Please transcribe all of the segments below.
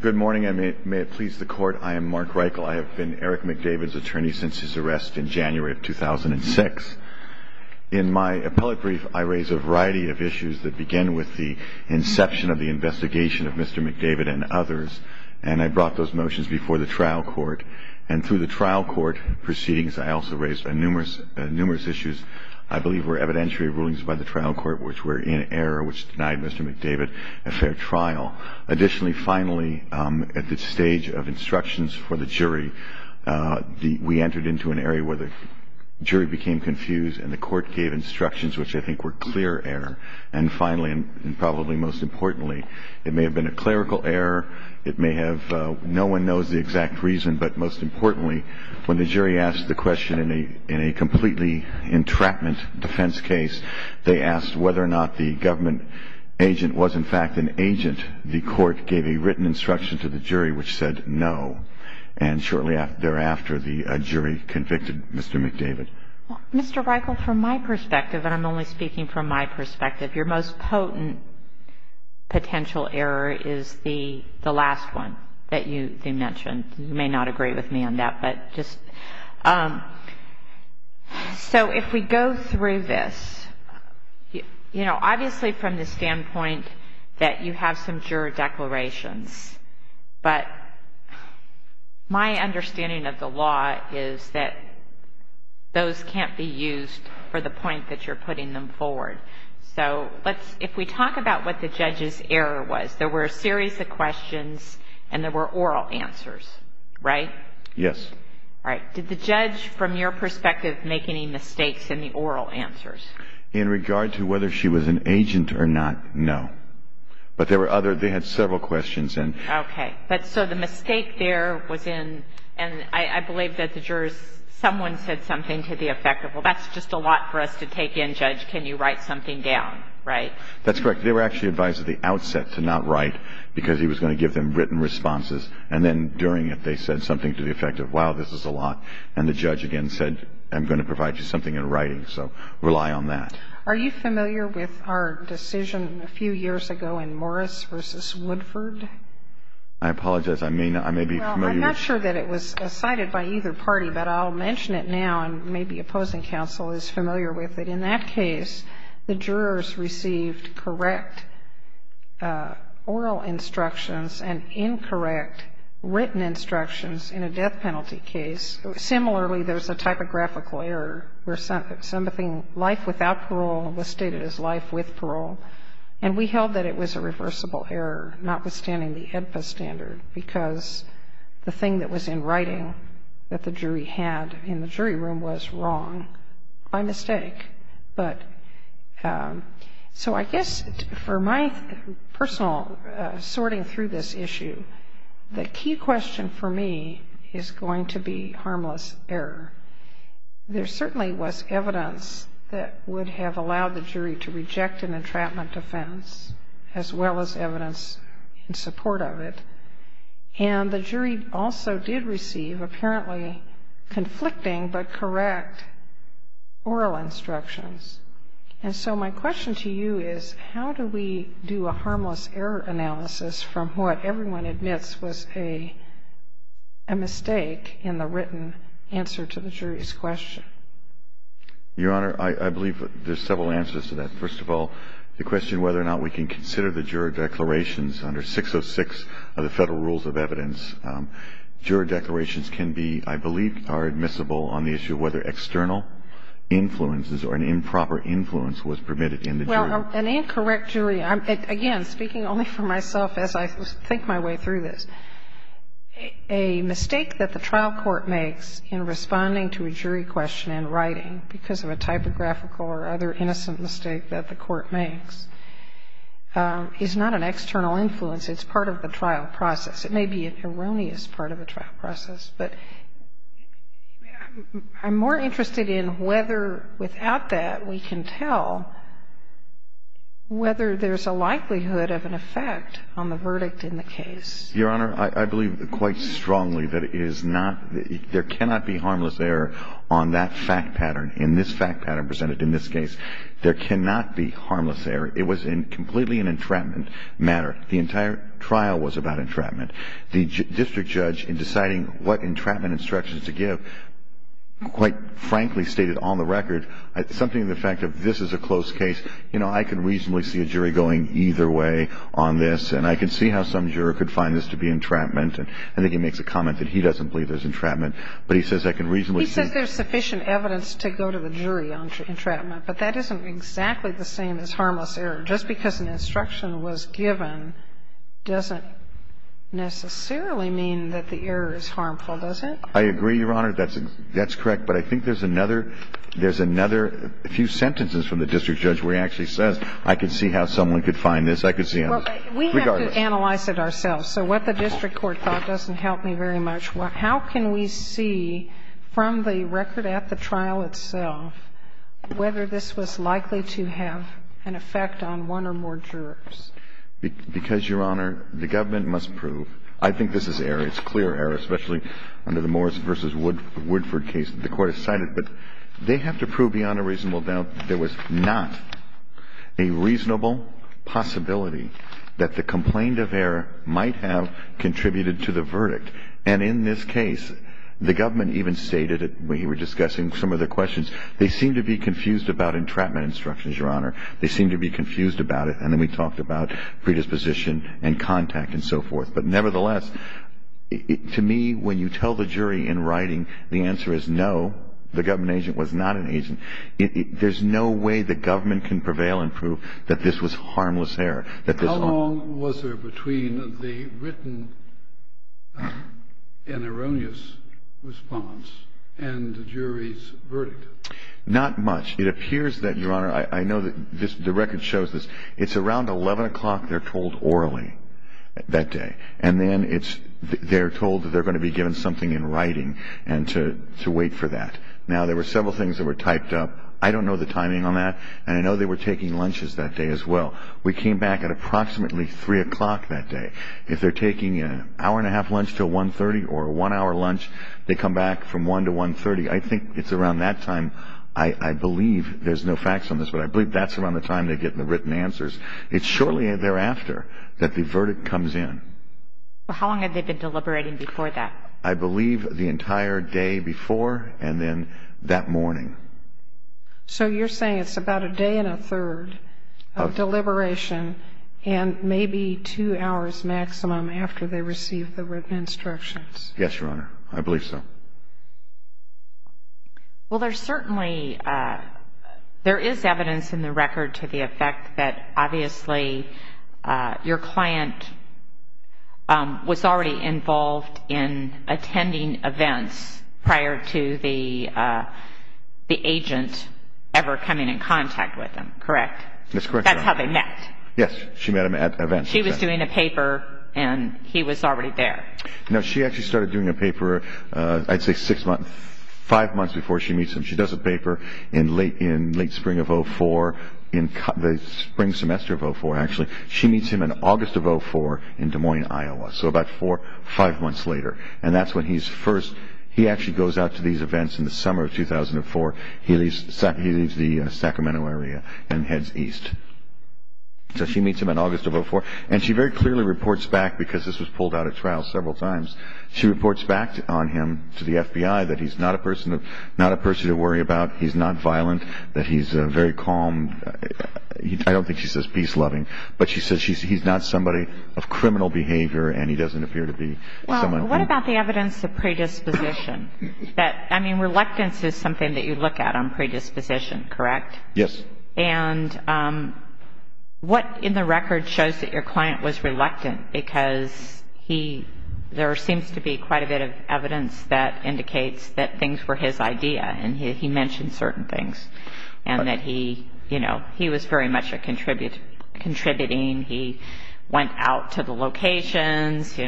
Good morning, and may it please the court, I am Mark Reichel. I have been Eric McDavid's attorney since his arrest in January of 2006. In my appellate brief, I raise a variety of issues that begin with the inception of the investigation of Mr. McDavid and others, and I brought those motions before the trial court. And through the trial court proceedings, I also raised numerous issues I believe were evidentiary rulings by the trial court which were in error, which denied Mr. McDavid a fair trial. Additionally, finally, at the stage of instructions for the jury, we entered into an area where the jury became confused and the court gave instructions which I think were clear error. And finally, and probably most importantly, it may have been a clerical error, it may have, no one knows the exact reason, but most importantly, when the jury asked the question in a completely entrapment defense case, they asked whether or not the government agent was in fact an agent, the court gave a written instruction to the jury which said no. And shortly thereafter, the jury convicted Mr. McDavid. Mr. Reichel, from my perspective, and I'm only speaking from my perspective, your most potent potential error is the last one that you mentioned. You may not agree with me on that, but just. So if we go through this, you know, obviously from the standpoint that you have some juror declarations, but my understanding of the law is that those can't be used for the point that you're putting them forward. So let's, if we talk about what the judge's error was, there were a series of questions and there were oral answers, right? Yes. All right. Did the judge, from your perspective, make any mistakes in the oral answers? In regard to whether she was an agent or not, no. But there were other, they had several questions. Okay. So the mistake there was in, and I believe that the jurors, someone said something to the effect of, well, that's just a lot for us to take in, Judge, can you write something down, right? That's correct. They were actually advised at the outset to not write because he was going to give them written responses, and then during it they said something to the effect of, wow, this is a lot, and the judge again said, I'm going to provide you something in writing, so rely on that. Are you familiar with our decision a few years ago in Morris v. Woodford? I apologize. I may be familiar. Well, I'm not sure that it was cited by either party, but I'll mention it now, and maybe opposing counsel is familiar with it. In that case, the jurors received correct oral instructions and incorrect written instructions in a death penalty case. Similarly, there's a typographical error where something, life without parole was stated as life with parole, and we held that it was a reversible error, notwithstanding the AEDPA standard, because the thing that was in writing that the jury had in the jury room was wrong by mistake. So I guess for my personal sorting through this issue, the key question for me is going to be harmless error. There certainly was evidence that would have allowed the jury to reject an entrapment offense, as well as evidence in support of it. And the jury also did receive apparently conflicting but correct oral instructions. And so my question to you is, how do we do a harmless error analysis from what everyone admits was a mistake in the written answer to the jury's question? Your Honor, I believe there's several answers to that. First of all, the question whether or not we can consider the juror declarations under 606 of the Federal Rules of Evidence. Juror declarations can be, I believe, are admissible on the issue of whether external influences or an improper influence was permitted in the jury. Well, an incorrect jury, again, speaking only for myself as I think my way through this, a mistake that the trial court makes in responding to a jury question in writing because of a typographical or other innocent mistake that the court makes is not an external influence. It's part of the trial process. It may be an erroneous part of the trial process. But I'm more interested in whether without that we can tell whether there's a likelihood of an effect on the verdict in the case. Your Honor, I believe quite strongly that there cannot be harmless error on that fact pattern, in this fact pattern presented in this case. There cannot be harmless error. It was completely an entrapment matter. The entire trial was about entrapment. The district judge, in deciding what entrapment instructions to give, quite frankly stated on the record something to the effect of this is a close case. You know, I can reasonably see a jury going either way on this. And I can see how some juror could find this to be entrapment. And I think he makes a comment that he doesn't believe there's entrapment. But he says I can reasonably see. He says there's sufficient evidence to go to a jury on entrapment. But that isn't exactly the same as harmless error. Just because an instruction was given doesn't necessarily mean that the error is harmful, does it? I agree, Your Honor. That's correct. But I think there's another few sentences from the district judge where he actually says I can see how someone could find this. I could see how regardless. We have to analyze it ourselves. So what the district court thought doesn't help me very much. How can we see from the record at the trial itself whether this was likely to have an effect on one or more jurors? Because, Your Honor, the government must prove. I think this is error. It's clear error, especially under the Morris v. Woodford case that the Court has cited. But they have to prove beyond a reasonable doubt there was not a reasonable possibility that the complaint of error might have contributed to the verdict. And in this case, the government even stated it when he was discussing some of the questions. They seemed to be confused about entrapment instructions, Your Honor. They seemed to be confused about it. And then we talked about predisposition and contact and so forth. But nevertheless, to me, when you tell the jury in writing the answer is no, the government agent was not an agent. There's no way the government can prevail and prove that this was harmless error. How long was there between the written and erroneous response and the jury's verdict? Not much. It appears that, Your Honor, I know that the record shows this. It's around 11 o'clock they're told orally that day. And then they're told that they're going to be given something in writing to wait for that. Now, there were several things that were typed up. I don't know the timing on that, and I know they were taking lunches that day as well. We came back at approximately 3 o'clock that day. If they're taking an hour-and-a-half lunch to 1.30 or a one-hour lunch, they come back from 1 to 1.30. I think it's around that time. I believe there's no facts on this, but I believe that's around the time they get the written answers. It's shortly thereafter that the verdict comes in. How long had they been deliberating before that? I believe the entire day before and then that morning. So you're saying it's about a day and a third of deliberation and maybe two hours maximum after they receive the written instructions? Yes, Your Honor. I believe so. Well, there's certainly evidence in the record to the effect that, obviously, your client was already involved in attending events prior to the agent ever coming in contact with them, correct? That's correct, Your Honor. That's how they met. Yes, she met him at events. She was doing a paper, and he was already there. No, she actually started doing a paper, I'd say, five months before she meets him. She does a paper in late spring of 2004, the spring semester of 2004, actually. She meets him in August of 2004 in Des Moines, Iowa, so about four, five months later, and that's when he actually goes out to these events in the summer of 2004. He leaves the Sacramento area and heads east. So she meets him in August of 2004, and she very clearly reports back because this was pulled out of trial several times. She reports back on him to the FBI that he's not a person to worry about, he's not violent, that he's very calm. I don't think she says peace-loving, but she says he's not somebody of criminal behavior, and he doesn't appear to be someone who ---- Well, what about the evidence of predisposition? I mean, reluctance is something that you look at on predisposition, correct? Yes. And what in the record shows that your client was reluctant because there seems to be quite a bit of evidence that indicates that things were his idea and he mentioned certain things and that he was very much a contributing, he went out to the locations,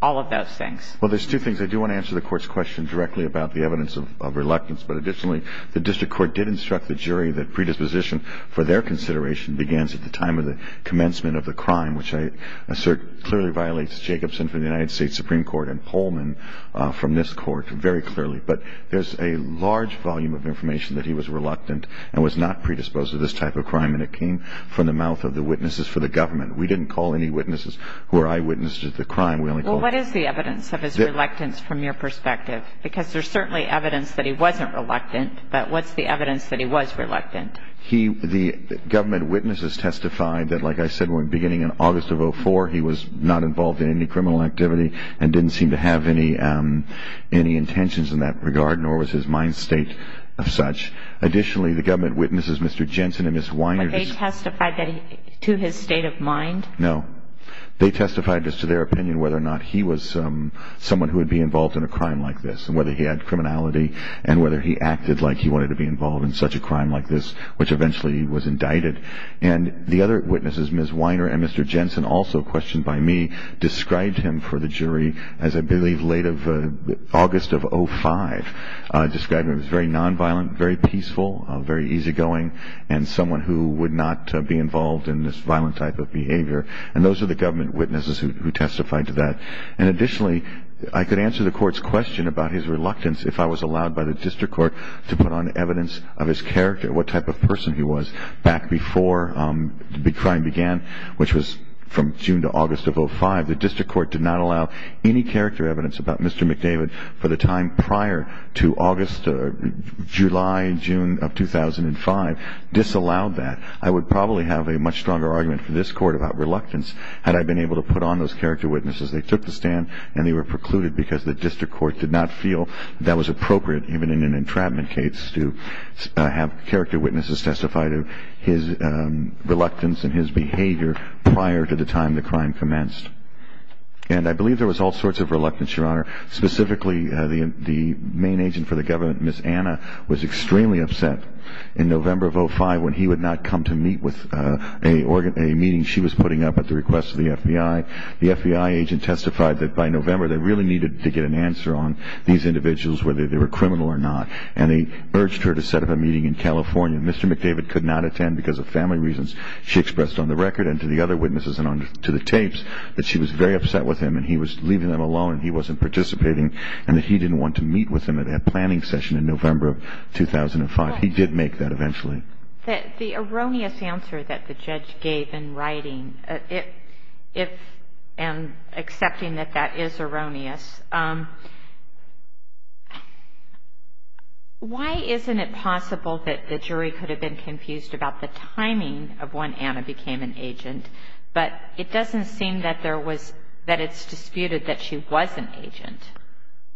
all of those things. Well, there's two things. I do want to answer the court's question directly about the evidence of reluctance, but additionally the district court did instruct the jury that predisposition for their consideration begins at the time of the commencement of the crime, which I assert clearly violates Jacobson from the United States Supreme Court and Holman from this court very clearly. But there's a large volume of information that he was reluctant and was not predisposed to this type of crime, and it came from the mouth of the witnesses for the government. We didn't call any witnesses who are eyewitnesses to the crime. Well, what is the evidence of his reluctance from your perspective? Because there's certainly evidence that he wasn't reluctant, but what's the evidence that he was reluctant? The government witnesses testified that, like I said, beginning in August of 2004, he was not involved in any criminal activity and didn't seem to have any intentions in that regard, nor was his mind state of such. Additionally, the government witnesses, Mr. Jensen and Ms. Weiner, Would they testify to his state of mind? No. They testified just to their opinion whether or not he was someone who would be involved in a crime like this and whether he had criminality and whether he acted like he wanted to be involved in such a crime like this, which eventually he was indicted. And the other witnesses, Ms. Weiner and Mr. Jensen, also questioned by me, described him for the jury as, I believe, late of August of 2005, described him as very nonviolent, very peaceful, very easygoing, and someone who would not be involved in this violent type of behavior. And those are the government witnesses who testified to that. And additionally, I could answer the court's question about his reluctance if I was allowed by the district court to put on evidence of his character, what type of person he was, back before the crime began, which was from June to August of 2005. The district court did not allow any character evidence about Mr. McDavid for the time prior to July, June of 2005, disallowed that. I would probably have a much stronger argument for this court about reluctance had I been able to put on those character witnesses. They took the stand and they were precluded because the district court did not feel that was appropriate, even in an entrapment case, to have character witnesses testify to his reluctance and his behavior prior to the time the crime commenced. And I believe there was all sorts of reluctance, Your Honor. Specifically, the main agent for the government, Ms. Anna, was extremely upset in November of 2005 when he would not come to meet with a meeting she was putting up at the request of the FBI. The FBI agent testified that by November they really needed to get an answer on these individuals, whether they were criminal or not, and they urged her to set up a meeting in California. Mr. McDavid could not attend because of family reasons, she expressed on the record and to the other witnesses and to the tapes that she was very upset with him and he was leaving them alone and he wasn't participating and that he didn't want to meet with them at that planning session in November of 2005. He did make that eventually. The erroneous answer that the judge gave in writing, and accepting that that is erroneous, why isn't it possible that the jury could have been confused about the timing of when Anna became an agent, but it doesn't seem that it's disputed that she was an agent.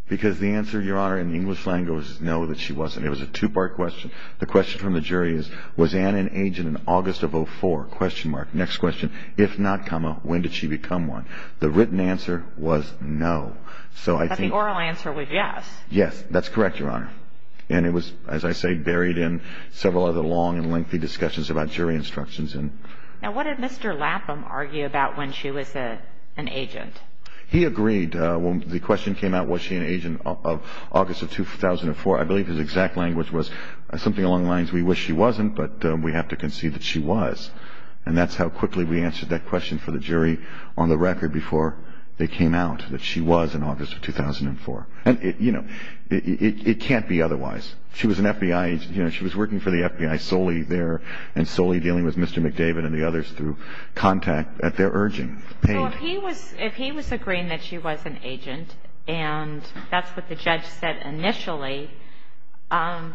Because the answer, Your Honor, in English language is no, that she wasn't. It was a two-part question. The question from the jury is, was Anna an agent in August of 2004? Next question, if not, when did she become one? The written answer was no. But the oral answer was yes. Yes, that's correct, Your Honor. And it was, as I say, buried in several other long and lengthy discussions about jury instructions. Now what did Mr. Lapham argue about when she was an agent? He agreed. When the question came out, was she an agent of August of 2004, I believe his exact language was something along the lines, we wish she wasn't, but we have to concede that she was. And that's how quickly we answered that question for the jury on the record before they came out, that she was in August of 2004. And, you know, it can't be otherwise. She was an FBI agent. You know, she was working for the FBI solely there and solely dealing with Mr. McDavid and the others through contact at their urging. So if he was agreeing that she was an agent and that's what the judge said initially, how,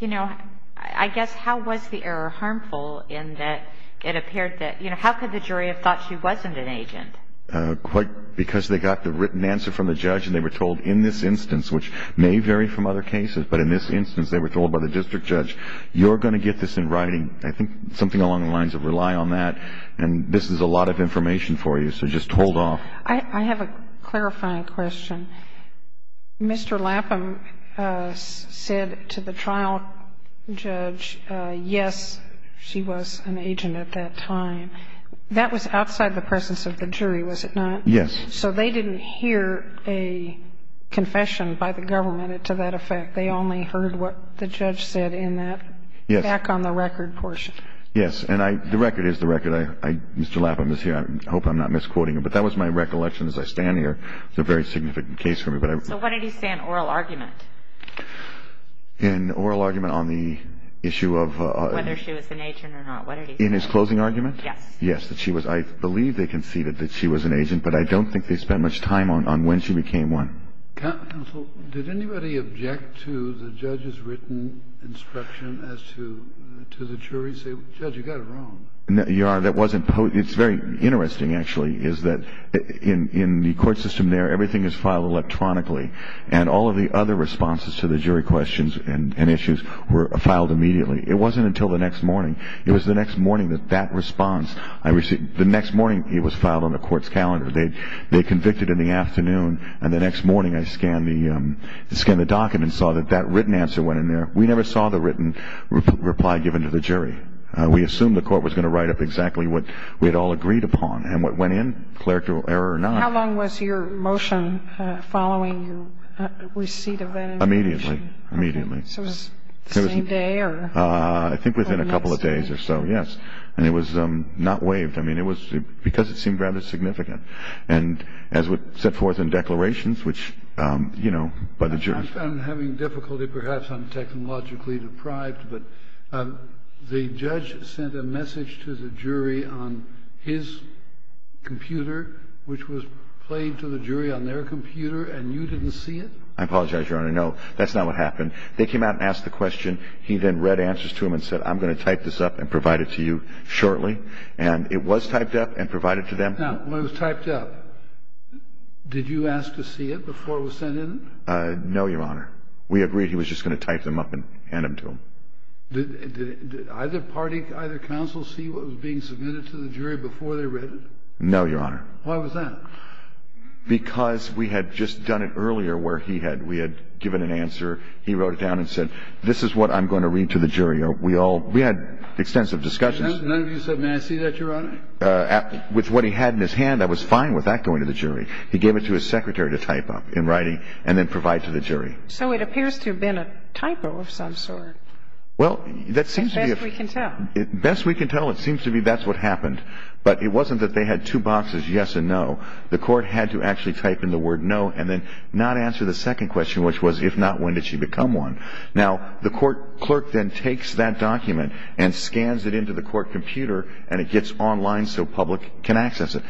you know, I guess how was the error harmful in that it appeared that, you know, how could the jury have thought she wasn't an agent? Because they got the written answer from the judge and they were told in this instance, which may vary from other cases, but in this instance they were told by the district judge, you're going to get this in writing. I think something along the lines of rely on that. And this is a lot of information for you, so just hold off. I have a clarifying question. Mr. Lapham said to the trial judge, yes, she was an agent at that time. That was outside the presence of the jury, was it not? Yes. So they didn't hear a confession by the government to that effect. They only heard what the judge said in that back on the record portion. Yes. And the record is the record. Mr. Lapham is here. I hope I'm not misquoting him. But that was my recollection as I stand here. It's a very significant case for me. So what did he say in oral argument? In oral argument on the issue of whether she was an agent or not, what did he say? In his closing argument? Yes. Yes, that she was. I believe they conceded that she was an agent, but I don't think they spent much time on when she became one. Counsel, did anybody object to the judge's written instruction as to the jury say, Judge, you got it wrong? Your Honor, that wasn't posed. It's very interesting, actually, is that in the court system there, everything is filed electronically, and all of the other responses to the jury questions and issues were filed immediately. It wasn't until the next morning. It was the next morning that that response I received. The next morning, it was filed on the court's calendar. They convicted in the afternoon, and the next morning I scanned the document and saw that that written answer went in there. We never saw the written reply given to the jury. We assumed the court was going to write up exactly what we had all agreed upon, and what went in, clerical error or not. How long was your motion following receipt of that information? Immediately. Immediately. So it was the same day? I think within a couple of days or so, yes. And it was not waived. I mean, it was because it seemed rather significant. And as was set forth in declarations, which, you know, by the jury. I'm having difficulty. Perhaps I'm technologically deprived. But the judge sent a message to the jury on his computer, which was played to the jury on their computer, and you didn't see it? I apologize, Your Honor. No, that's not what happened. They came out and asked the question. He then read answers to them and said, I'm going to type this up and provide it to you shortly. And it was typed up and provided to them. Now, when it was typed up, did you ask to see it before it was sent in? No, Your Honor. We agreed he was just going to type them up and hand them to them. Did either party, either counsel, see what was being submitted to the jury before they read it? No, Your Honor. Why was that? Because we had just done it earlier where he had. We had given an answer. He wrote it down and said, this is what I'm going to read to the jury. We all we had extensive discussions. None of you said, may I see that, Your Honor? With what he had in his hand, I was fine with that going to the jury. He gave it to his secretary to type up in writing and then provide to the jury. So it appears to have been a typo of some sort. Well, that seems to be. Best we can tell. Best we can tell, it seems to be that's what happened. But it wasn't that they had two boxes, yes and no. The court had to actually type in the word no and then not answer the second question, which was, if not, when did she become one? Now, the court clerk then takes that document and scans it into the court computer and it gets online so public can access it.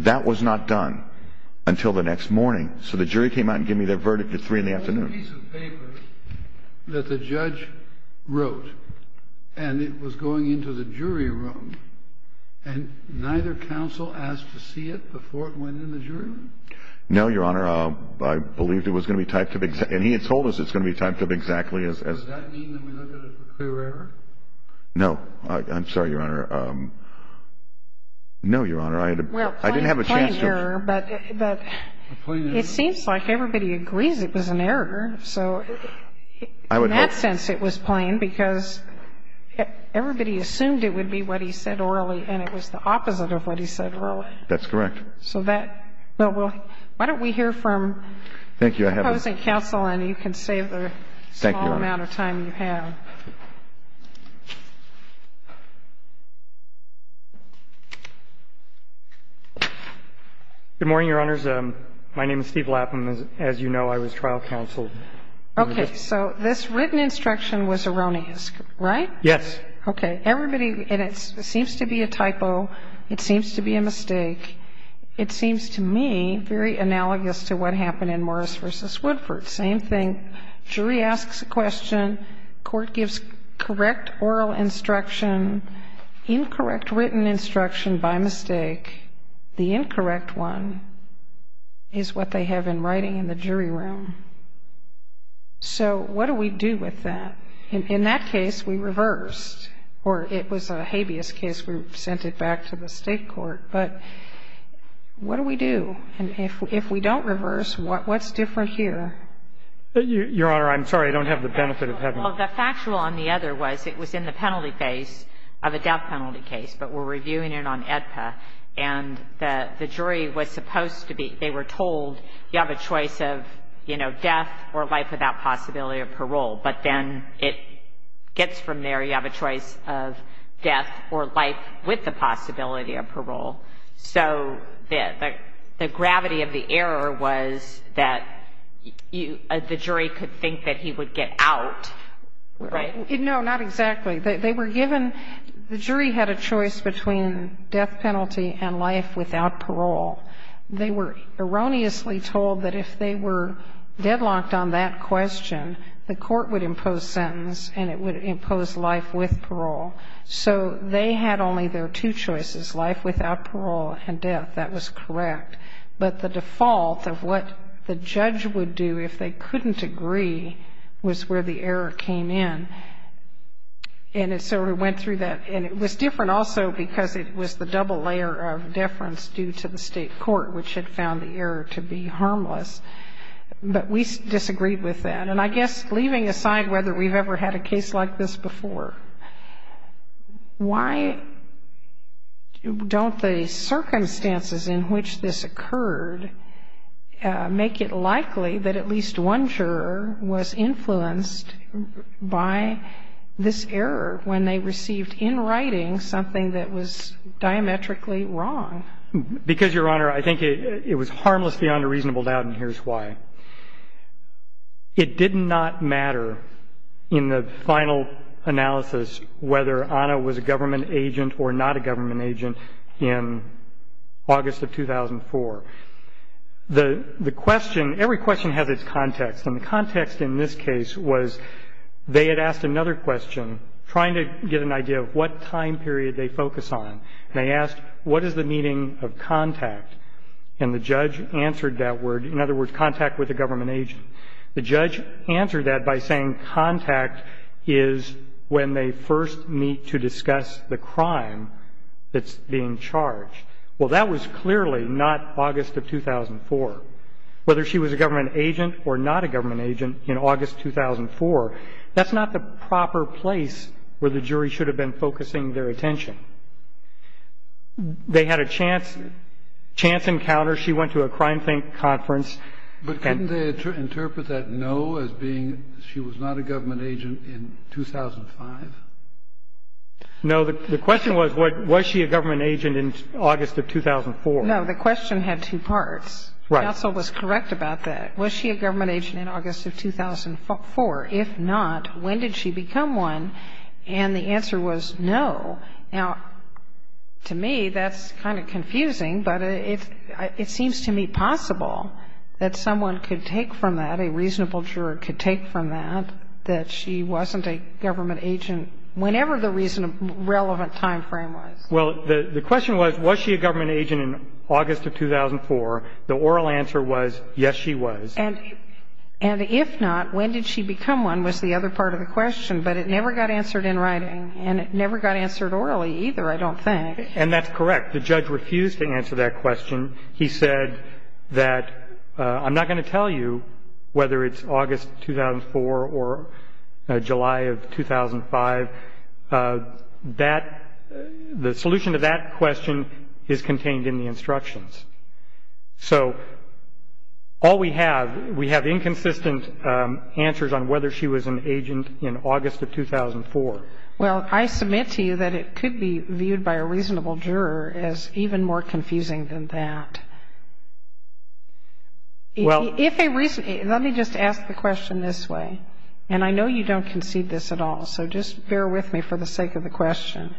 That was not done until the next morning. So the jury came out and gave me their verdict at 3 in the afternoon. There was a piece of paper that the judge wrote and it was going into the jury room and neither counsel asked to see it before it went in the jury room? No, Your Honor. I believe it was going to be typed up exactly. And he had told us it was going to be typed up exactly as. Does that mean that we look at it as a clear error? No. I'm sorry, Your Honor. No, Your Honor. I didn't have a chance to. Well, a plain error, but it seems like everybody agrees it was an error. So in that sense it was plain because everybody assumed it would be what he said orally and it was the opposite of what he said orally. That's correct. All right. So the first thing I want to do is maybe I'll ask you to share your screen. So that we'll – why don't we hear from opposing counsel and you can save the small amount of time you have. Thank you, Your Honor. Good morning, Your Honors. My name is Steve Lapham. As you know, I was trial counsel. Okay. So this written instruction was erroneous, right? Yes. Okay. Everybody – and it seems to be a typo. It seems to be a mistake. It seems to me very analogous to what happened in Morris v. Woodford. Same thing. Jury asks a question. Court gives correct oral instruction, incorrect written instruction by mistake. The incorrect one is what they have in writing in the jury room. So what do we do with that? In that case, we reversed. Or it was a habeas case. We sent it back to the State court. But what do we do? And if we don't reverse, what's different here? Your Honor, I'm sorry. I don't have the benefit of having it. Well, the factual on the other was it was in the penalty phase of a death penalty case, but we're reviewing it on AEDPA. And the jury was supposed to be – they were told you have a choice of, you know, death or life without possibility of parole. But then it gets from there. You have a choice of death or life with the possibility of parole. So the gravity of the error was that the jury could think that he would get out, right? No, not exactly. They were given – the jury had a choice between death penalty and life without parole. They were erroneously told that if they were deadlocked on that question, the court would impose sentence and it would impose life with parole. So they had only their two choices, life without parole and death. That was correct. But the default of what the judge would do if they couldn't agree was where the error came in. And so we went through that. And it was different also because it was the double layer of deference due to the state court, which had found the error to be harmless. But we disagreed with that. And I guess leaving aside whether we've ever had a case like this before, why don't the circumstances in which this occurred make it likely that at least one juror was influenced by this error when they received in writing something that was diametrically wrong? Because, Your Honor, I think it was harmless beyond a reasonable doubt, and here's why. It did not matter in the final analysis whether Anna was a government agent or not a government agent in August of 2004. The question, every question has its context. And the context in this case was they had asked another question, trying to get an idea of what time period they focus on. And they asked, what is the meaning of contact? And the judge answered that word. In other words, contact with a government agent. The judge answered that by saying contact is when they first meet to discuss the crime that's being charged. Well, that was clearly not August of 2004. Whether she was a government agent or not a government agent in August 2004, that's not the proper place where the jury should have been focusing their attention. They had a chance encounter. She went to a crime conference. But couldn't they interpret that no as being she was not a government agent in 2005? No. The question was, was she a government agent in August of 2004? No. The question had two parts. Right. Counsel was correct about that. Was she a government agent in August of 2004? If not, when did she become one? And the answer was no. Now, to me, that's kind of confusing. But it seems to me possible that someone could take from that, a reasonable juror could take from that, that she wasn't a government agent whenever the relevant time frame was. Well, the question was, was she a government agent in August of 2004? The oral answer was, yes, she was. And if not, when did she become one was the other part of the question. But it never got answered in writing, and it never got answered orally either, I don't think. And that's correct. The judge refused to answer that question. He said that, I'm not going to tell you whether it's August 2004 or July of 2005. The solution to that question is contained in the instructions. So all we have, we have inconsistent answers on whether she was an agent in August of 2004. Well, I submit to you that it could be viewed by a reasonable juror as even more confusing than that. Let me just ask the question this way, and I know you don't concede this at all, so just bear with me for the sake of the question.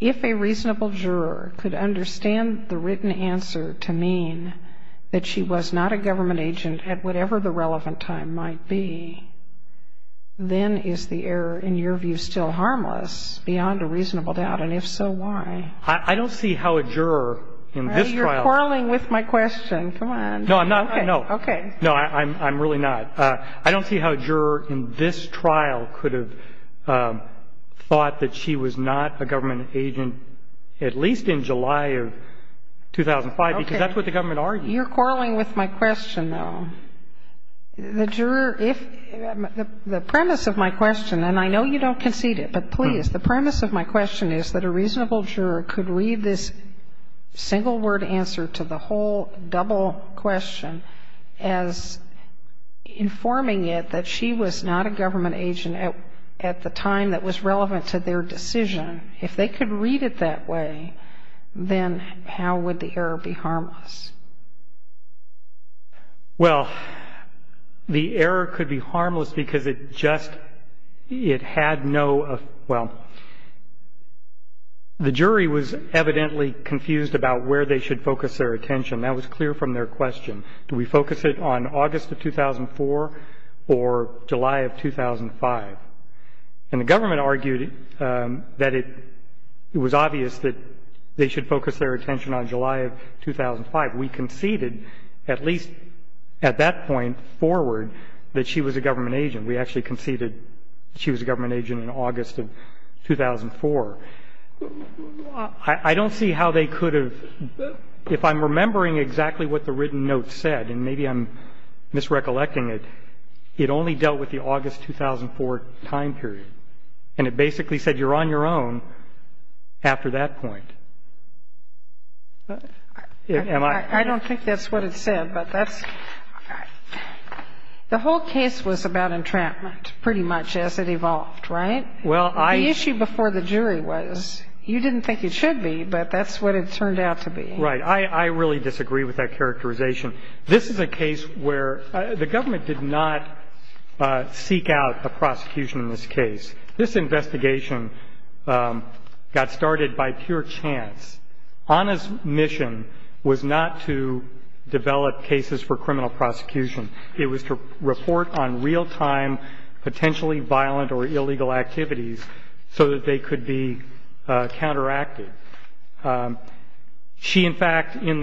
If a reasonable juror could understand the written answer to mean that she was not a government agent at whatever the relevant time might be, then is the error, in your view, still harmless beyond a reasonable doubt? And if so, why? I don't see how a juror in this trial. You're quarreling with my question. Come on. No, I'm not. Okay. No, I'm really not. I don't see how a juror in this trial could have thought that she was not a government agent at least in July of 2005, because that's what the government argued. Okay. You're quarreling with my question, though. The juror, if the premise of my question, and I know you don't concede it, but please, the premise of my question is that a reasonable juror could read this single-word answer to the whole double question as informing it that she was not a government agent at the time that was relevant to their decision. If they could read it that way, then how would the error be harmless? Well, the error could be harmless because it just, it had no, well, the jury was evidently confused about where they should focus their attention. That was clear from their question. Do we focus it on August of 2004 or July of 2005? And the government argued that it was obvious that they should focus their attention on July of 2005. We conceded at least at that point forward that she was a government agent. We actually conceded she was a government agent in August of 2004. I don't see how they could have, if I'm remembering exactly what the written note said, and maybe I'm misrecollecting it, it only dealt with the August 2004 time period. And it basically said you're on your own after that point. Am I? I don't think that's what it said, but that's, the whole case was about entrapment pretty much as it evolved, right? Well, I. The issue before the jury was you didn't think you should be, but that's what it turned out to be. Right. I really disagree with that characterization. This is a case where the government did not seek out a prosecution in this case. This investigation got started by pure chance. Ana's mission was not to develop cases for criminal prosecution. It was to report on real-time potentially violent or illegal activities so that they could be counteracted. She, in fact, in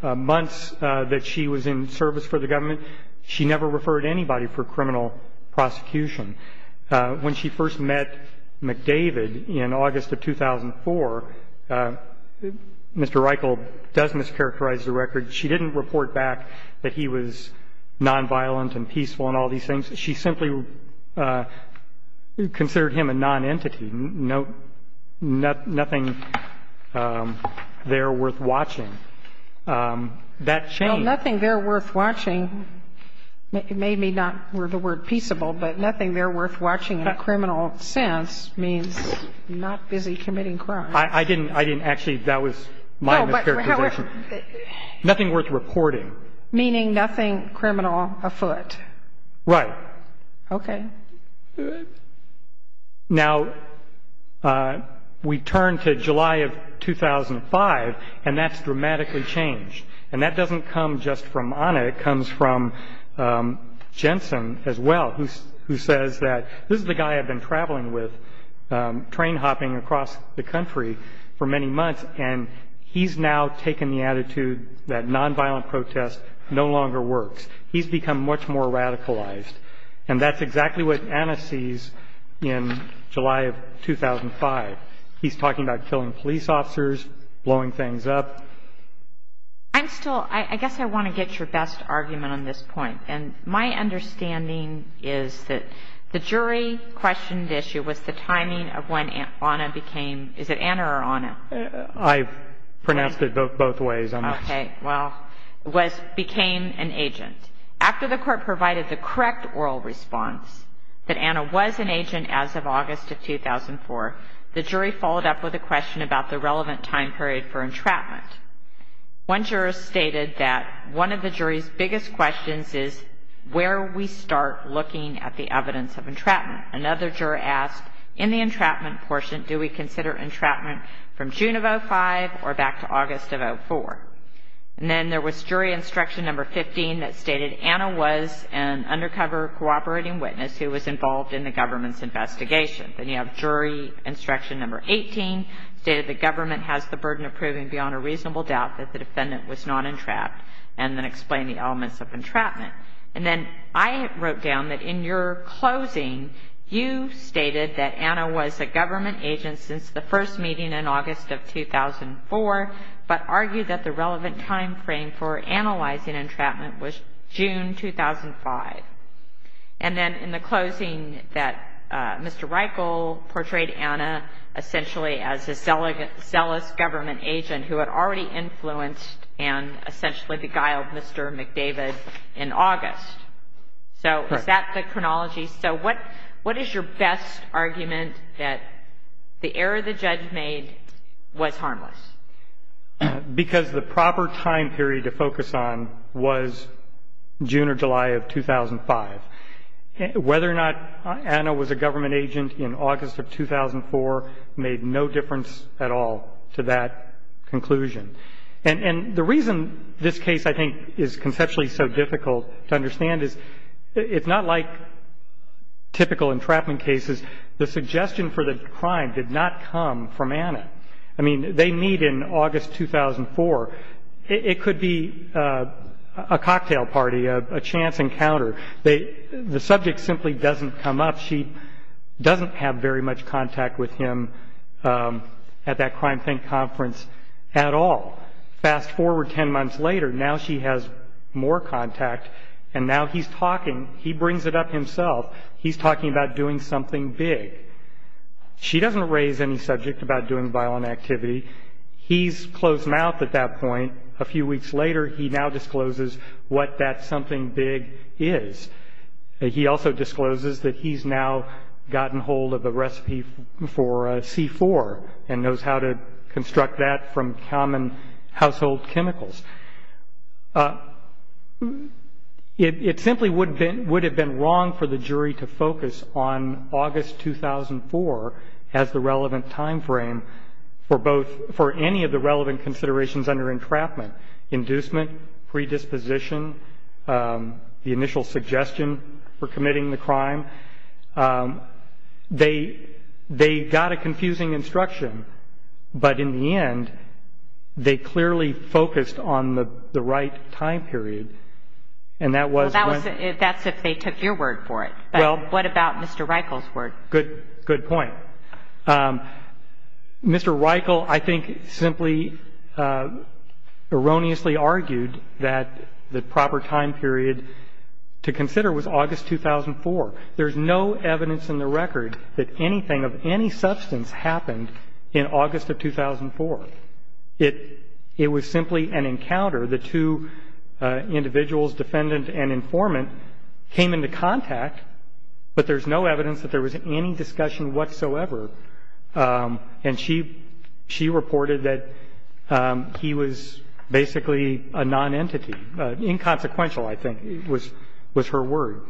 the months that she was in service for the government, she never referred anybody for criminal prosecution. When she first met McDavid in August of 2004, Mr. Reichel does mischaracterize the record. She didn't report back that he was nonviolent and peaceful and all these things. She simply considered him a nonentity, nothing there worth watching. That changed. Nothing there worth watching made me not, were the word peaceable, but nothing there worth watching in a criminal sense means not busy committing crime. I didn't actually, that was my mischaracterization. No, but however. Nothing worth reporting. Meaning nothing criminal afoot. Right. Okay. Now, we turn to July of 2005, and that's dramatically changed. And that doesn't come just from Ana. It comes from Jensen as well, who says that this is the guy I've been traveling with, train hopping across the country for many months, and he's now taken the attitude that nonviolent protest no longer works. He's become much more radicalized. And that's exactly what Ana sees in July of 2005. He's talking about killing police officers, blowing things up. I'm still, I guess I want to get your best argument on this point. And my understanding is that the jury questioned issue was the timing of when Ana became, is it Ana or Ana? I've pronounced it both ways. Okay. Well, was, became an agent. After the court provided the correct oral response that Ana was an agent as of August of 2004, the jury followed up with a question about the relevant time period for entrapment. One juror stated that one of the jury's biggest questions is where we start looking at the evidence of entrapment. Another juror asked, in the entrapment portion, do we consider entrapment from June of 2005 or back to August of 2004? And then there was jury instruction number 15 that stated Ana was an undercover cooperating witness who was involved in the government's investigation. Then you have jury instruction number 18, stated the government has the burden of proving beyond a reasonable doubt that the defendant was not entrapped, and then explained the elements of entrapment. And then I wrote down that in your closing, you stated that Ana was a government agent since the first meeting in August of 2004, but argued that the relevant timeframe for analyzing entrapment was June 2005. And then in the closing, that Mr. Reichel portrayed Ana essentially as a zealous government agent who had already influenced and essentially beguiled Mr. McDavid in August. So is that the chronology? So what is your best argument that the error the judge made was harmless? Because the proper time period to focus on was June or July of 2005. Whether or not Ana was a government agent in August of 2004 made no difference at all to that conclusion. And the reason this case, I think, is conceptually so difficult to understand is it's not like typical entrapment cases. The suggestion for the crime did not come from Ana. I mean, they meet in August 2004. It could be a cocktail party, a chance encounter. The subject simply doesn't come up. She doesn't have very much contact with him at that crime think conference at all. Fast forward 10 months later, now she has more contact, and now he's talking. He brings it up himself. He's talking about doing something big. She doesn't raise any subject about doing violent activity. He's closed mouth at that point. A few weeks later, he now discloses what that something big is. He also discloses that he's now gotten hold of a recipe for C4 and knows how to construct that from common household chemicals. It simply would have been wrong for the jury to focus on August 2004 as the relevant time frame for any of the relevant considerations under entrapment, inducement, predisposition, the initial suggestion for committing the crime. They got a confusing instruction, but in the end, they clearly focused on the right time period, and that was when. That's if they took your word for it, but what about Mr. Reichel's word? Good point. Mr. Reichel, I think, simply erroneously argued that the proper time period to consider was August 2004. There's no evidence in the record that anything of any substance happened in August of 2004. It was simply an encounter. The two individuals, defendant and informant, came into contact, but there's no evidence that there was any discussion whatsoever, and she reported that he was basically a nonentity, inconsequential, I think, was her word.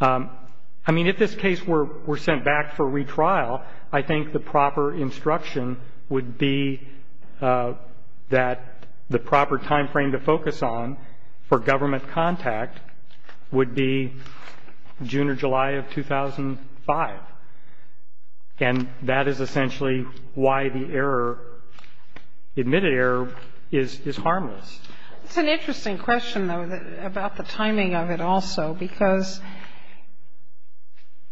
I mean, if this case were sent back for retrial, I think the proper instruction would be that the proper time frame to focus on for government contact would be June or July of 2005, and that is essentially why the error, admitted error, is harmless. It's an interesting question, though, about the timing of it also, because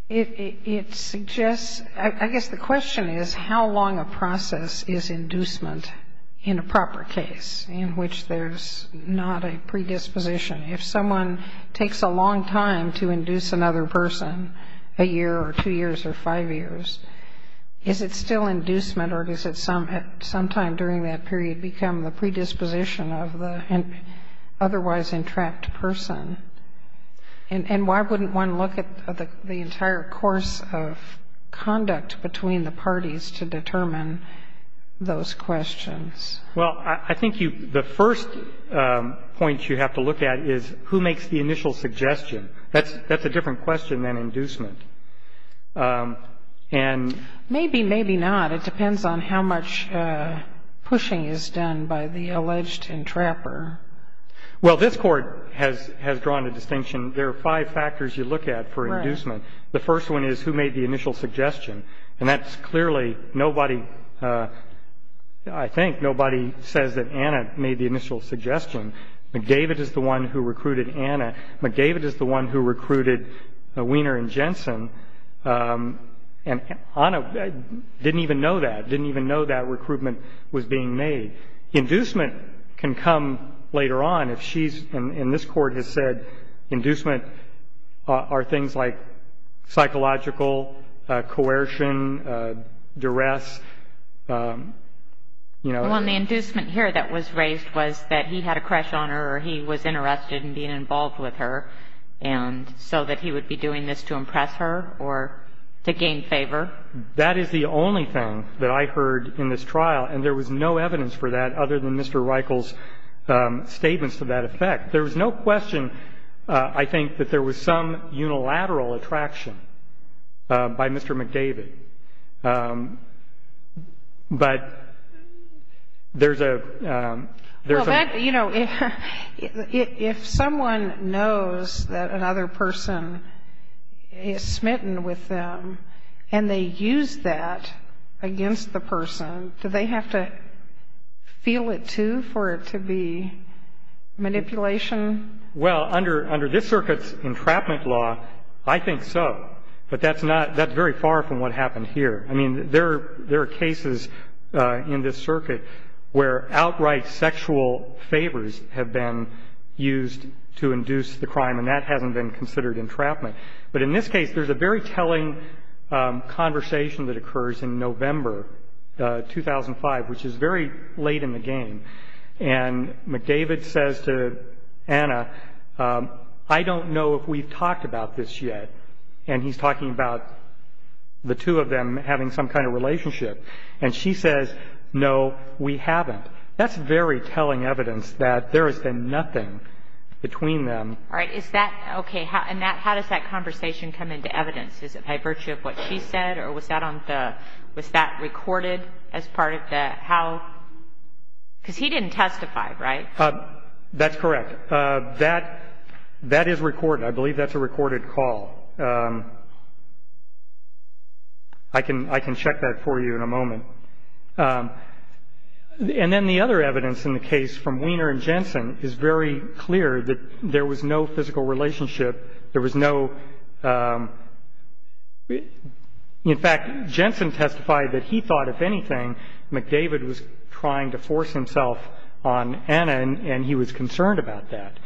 it suggests, I guess the question is how long a process is inducement in a proper case in which there's not a predisposition. If someone takes a long time to induce another person, a year or two years or five years, is it still inducement or does it sometime during that period become the predisposition of the otherwise entrapped person? And why wouldn't one look at the entire course of conduct between the parties to determine those questions? Well, I think the first point you have to look at is who makes the initial suggestion. That's a different question than inducement. Maybe, maybe not. It depends on how much pushing is done by the alleged entrapper. Well, this Court has drawn a distinction. There are five factors you look at for inducement. The first one is who made the initial suggestion, and that's clearly nobody, I think nobody says that Anna made the initial suggestion. McGavitt is the one who recruited Anna. McGavitt is the one who recruited Wiener and Jensen, and Anna didn't even know that, didn't even know that recruitment was being made. Inducement can come later on if she's, and this Court has said, inducement are things like psychological coercion, duress, you know. Well, the inducement here that was raised was that he had a crush on her or he was interested in being involved with her, and so that he would be doing this to impress her or to gain favor. That is the only thing that I heard in this trial, and there was no evidence for that other than Mr. Reichel's statements to that effect. There was no question, I think, that there was some unilateral attraction by Mr. McGavitt. But there's a, there's a. Well, that, you know, if someone knows that another person is smitten with them and they use that against the person, do they have to feel it, too, for it to be manipulation? Well, under this circuit's entrapment law, I think so. But that's not, that's very far from what happened here. I mean, there are cases in this circuit where outright sexual favors have been used to induce the crime, and that hasn't been considered entrapment. But in this case, there's a very telling conversation that occurs in November 2005, which is very late in the game. And McGavitt says to Anna, I don't know if we've talked about this yet. And he's talking about the two of them having some kind of relationship. And she says, no, we haven't. That's very telling evidence that there has been nothing between them. All right. Is that okay? And that, how does that conversation come into evidence? Is it by virtue of what she said, or was that on the, was that recorded as part of the how? Because he didn't testify, right? That's correct. That, that is recorded. I believe that's a recorded call. I can, I can check that for you in a moment. And then the other evidence in the case from Weiner and Jensen is very clear that there was no physical relationship. There was no, in fact, Jensen testified that he thought, if anything, McGavitt was trying to force himself on Anna, and he was concerned about that.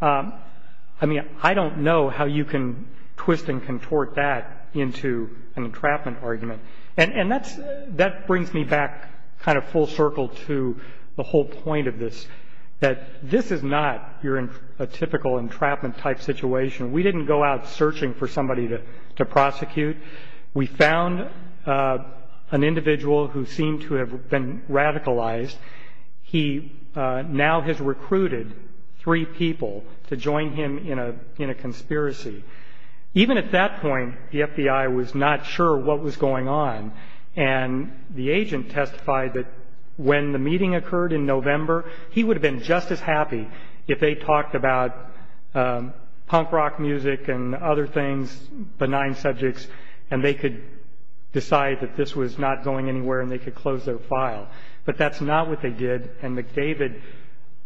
I mean, I don't know how you can twist and contort that into an entrapment argument. And that brings me back kind of full circle to the whole point of this, that this is not a typical entrapment type situation. We didn't go out searching for somebody to prosecute. We found an individual who seemed to have been radicalized. He now has recruited three people to join him in a conspiracy. Even at that point, the FBI was not sure what was going on, and the agent testified that when the meeting occurred in November, he would have been just as happy if they talked about punk rock music and other things, benign subjects, and they could decide that this was not going anywhere and they could close their file. But that's not what they did, and McGavitt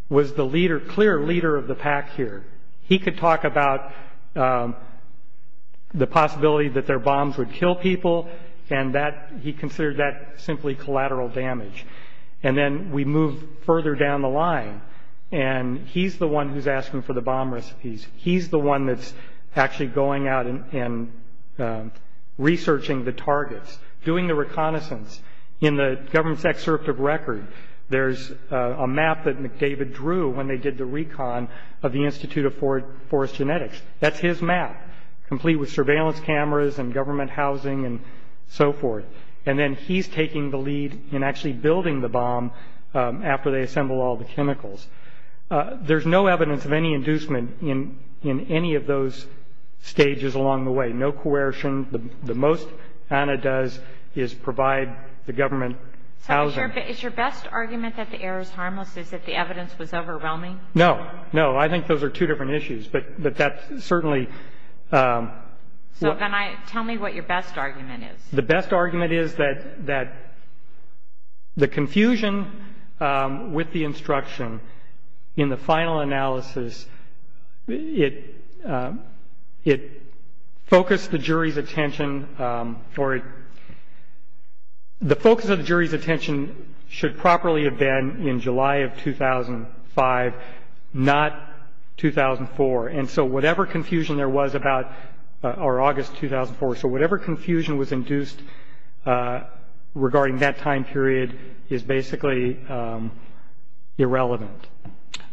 was the clear leader of the pack here. He could talk about the possibility that their bombs would kill people, and he considered that simply collateral damage. And then we move further down the line, and he's the one who's asking for the bomb recipes. He's the one that's actually going out and researching the targets, doing the reconnaissance. In the government's excerpt of record, there's a map that McGavitt drew when they did the recon of the Institute of Forest Genetics. That's his map, complete with surveillance cameras and government housing and so forth. And then he's taking the lead in actually building the bomb after they assemble all the chemicals. There's no evidence of any inducement in any of those stages along the way, no coercion. The most ANA does is provide the government housing. So is your best argument that the error is harmless is that the evidence was overwhelming? No, no. I think those are two different issues, but that certainly – So tell me what your best argument is. The best argument is that the confusion with the instruction in the final analysis, it focused the jury's attention or the focus of the jury's attention should properly have been in July of 2005, not 2004. And so whatever confusion there was about – or August 2004. So whatever confusion was induced regarding that time period is basically irrelevant.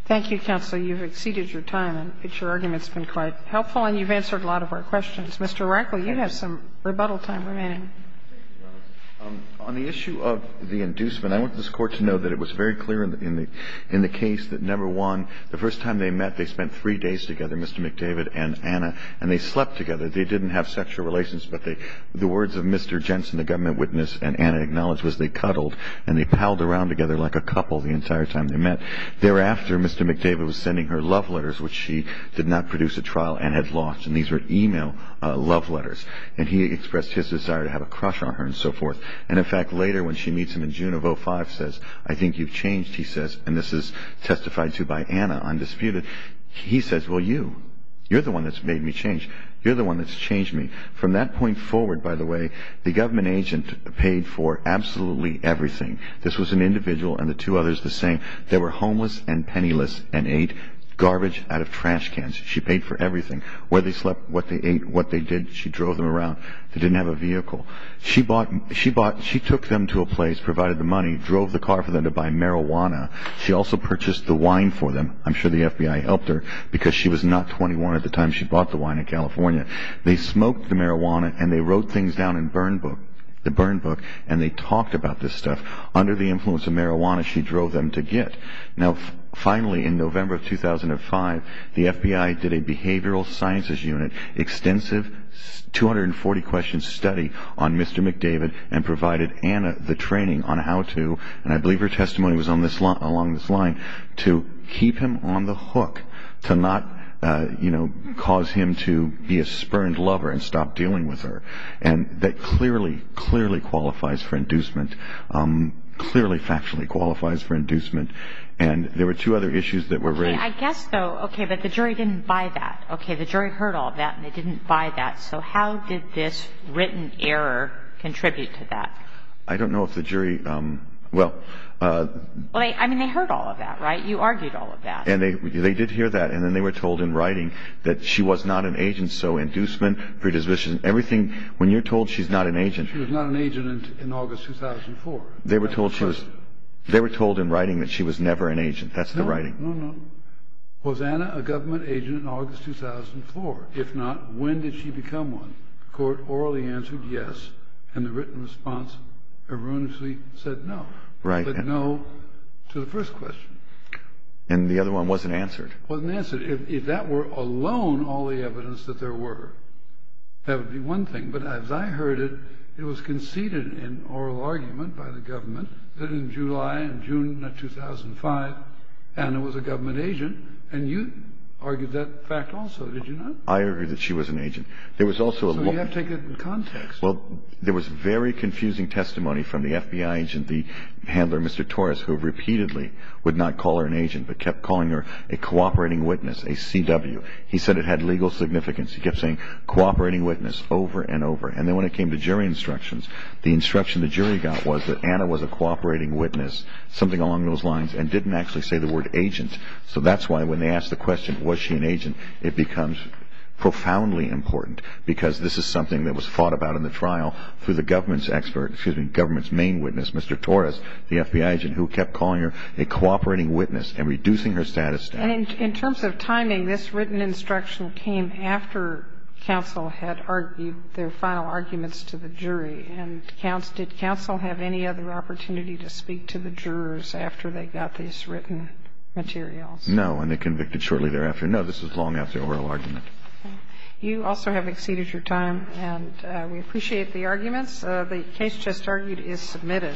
Thank you, counsel. You've exceeded your time. Your argument's been quite helpful and you've answered a lot of our questions. Mr. Reinke, you have some rebuttal time remaining. Thank you, Your Honor. On the issue of the inducement, I want this Court to know that it was very clear in the case that, number one, the first time they met, they spent three days together, Mr. McDavid and ANA, and they slept together. They didn't have sexual relations, but the words of Mr. Jensen, the government witness, and ANA acknowledged was they cuddled and they palled around together like a couple the entire time they met. Thereafter, Mr. McDavid was sending her love letters, which she did not produce at trial and had lost, and these were e-mail love letters. And he expressed his desire to have a crush on her and so forth. And, in fact, later when she meets him in June of 2005, says, I think you've changed, he says, and this is testified to by ANA undisputed, he says, well, you, you're the one that's made me change. You're the one that's changed me. From that point forward, by the way, the government agent paid for absolutely everything. This was an individual and the two others the same. They were homeless and penniless and ate garbage out of trash cans. She paid for everything, where they slept, what they ate, what they did. She drove them around. They didn't have a vehicle. She bought, she bought, she took them to a place, provided the money, drove the car for them to buy marijuana. She also purchased the wine for them. I'm sure the FBI helped her because she was not 21 at the time she bought the wine in California. They smoked the marijuana and they wrote things down in Burn Book, the Burn Book, and they talked about this stuff. Under the influence of marijuana, she drove them to get. Now, finally, in November of 2005, the FBI did a behavioral sciences unit, extensive 240-question study on Mr. McDavid and provided ANA the training on how to, and I believe her testimony was along this line, to keep him on the hook, to not, you know, cause him to be a spurned lover and stop dealing with her. And that clearly, clearly qualifies for inducement, clearly factually qualifies for inducement. And there were two other issues that were raised. Okay, I guess, though, okay, but the jury didn't buy that. Okay, the jury heard all of that and they didn't buy that. So how did this written error contribute to that? I don't know if the jury, well. Well, I mean, they heard all of that, right? You argued all of that. And they did hear that, and then they were told in writing that she was not an agent, so inducement, predisposition, everything, when you're told she's not an agent. She was not an agent in August 2004. They were told in writing that she was never an agent. That's the writing. No, no, no. Was ANA a government agent in August 2004? If not, when did she become one? The court orally answered yes, and the written response erroneously said no. Right. But no to the first question. And the other one wasn't answered. Wasn't answered. If that were alone all the evidence that there were, that would be one thing. But as I heard it, it was conceded in oral argument by the government that in July and June of 2005, ANA was a government agent. And you argued that fact also, did you not? I argued that she was an agent. There was also a look. So you have to take it in context. Well, there was very confusing testimony from the FBI agent, the handler, Mr. Torres, who repeatedly would not call her an agent but kept calling her a cooperating witness, a CW. He said it had legal significance. He kept saying cooperating witness over and over. And then when it came to jury instructions, the instruction the jury got was that ANA was a cooperating witness, something along those lines, and didn't actually say the word agent. So that's why when they asked the question, was she an agent, it becomes profoundly important because this is something that was fought about in the trial through the government's main witness, Mr. Torres, the FBI agent, who kept calling her a cooperating witness and reducing her status. And in terms of timing, this written instruction came after counsel had argued their final arguments to the jury. And did counsel have any other opportunity to speak to the jurors after they got these written materials? No. And they convicted shortly thereafter. No, this was long after oral argument. Okay. You also have exceeded your time, and we appreciate the arguments. The case just argued is submitted. Thank you.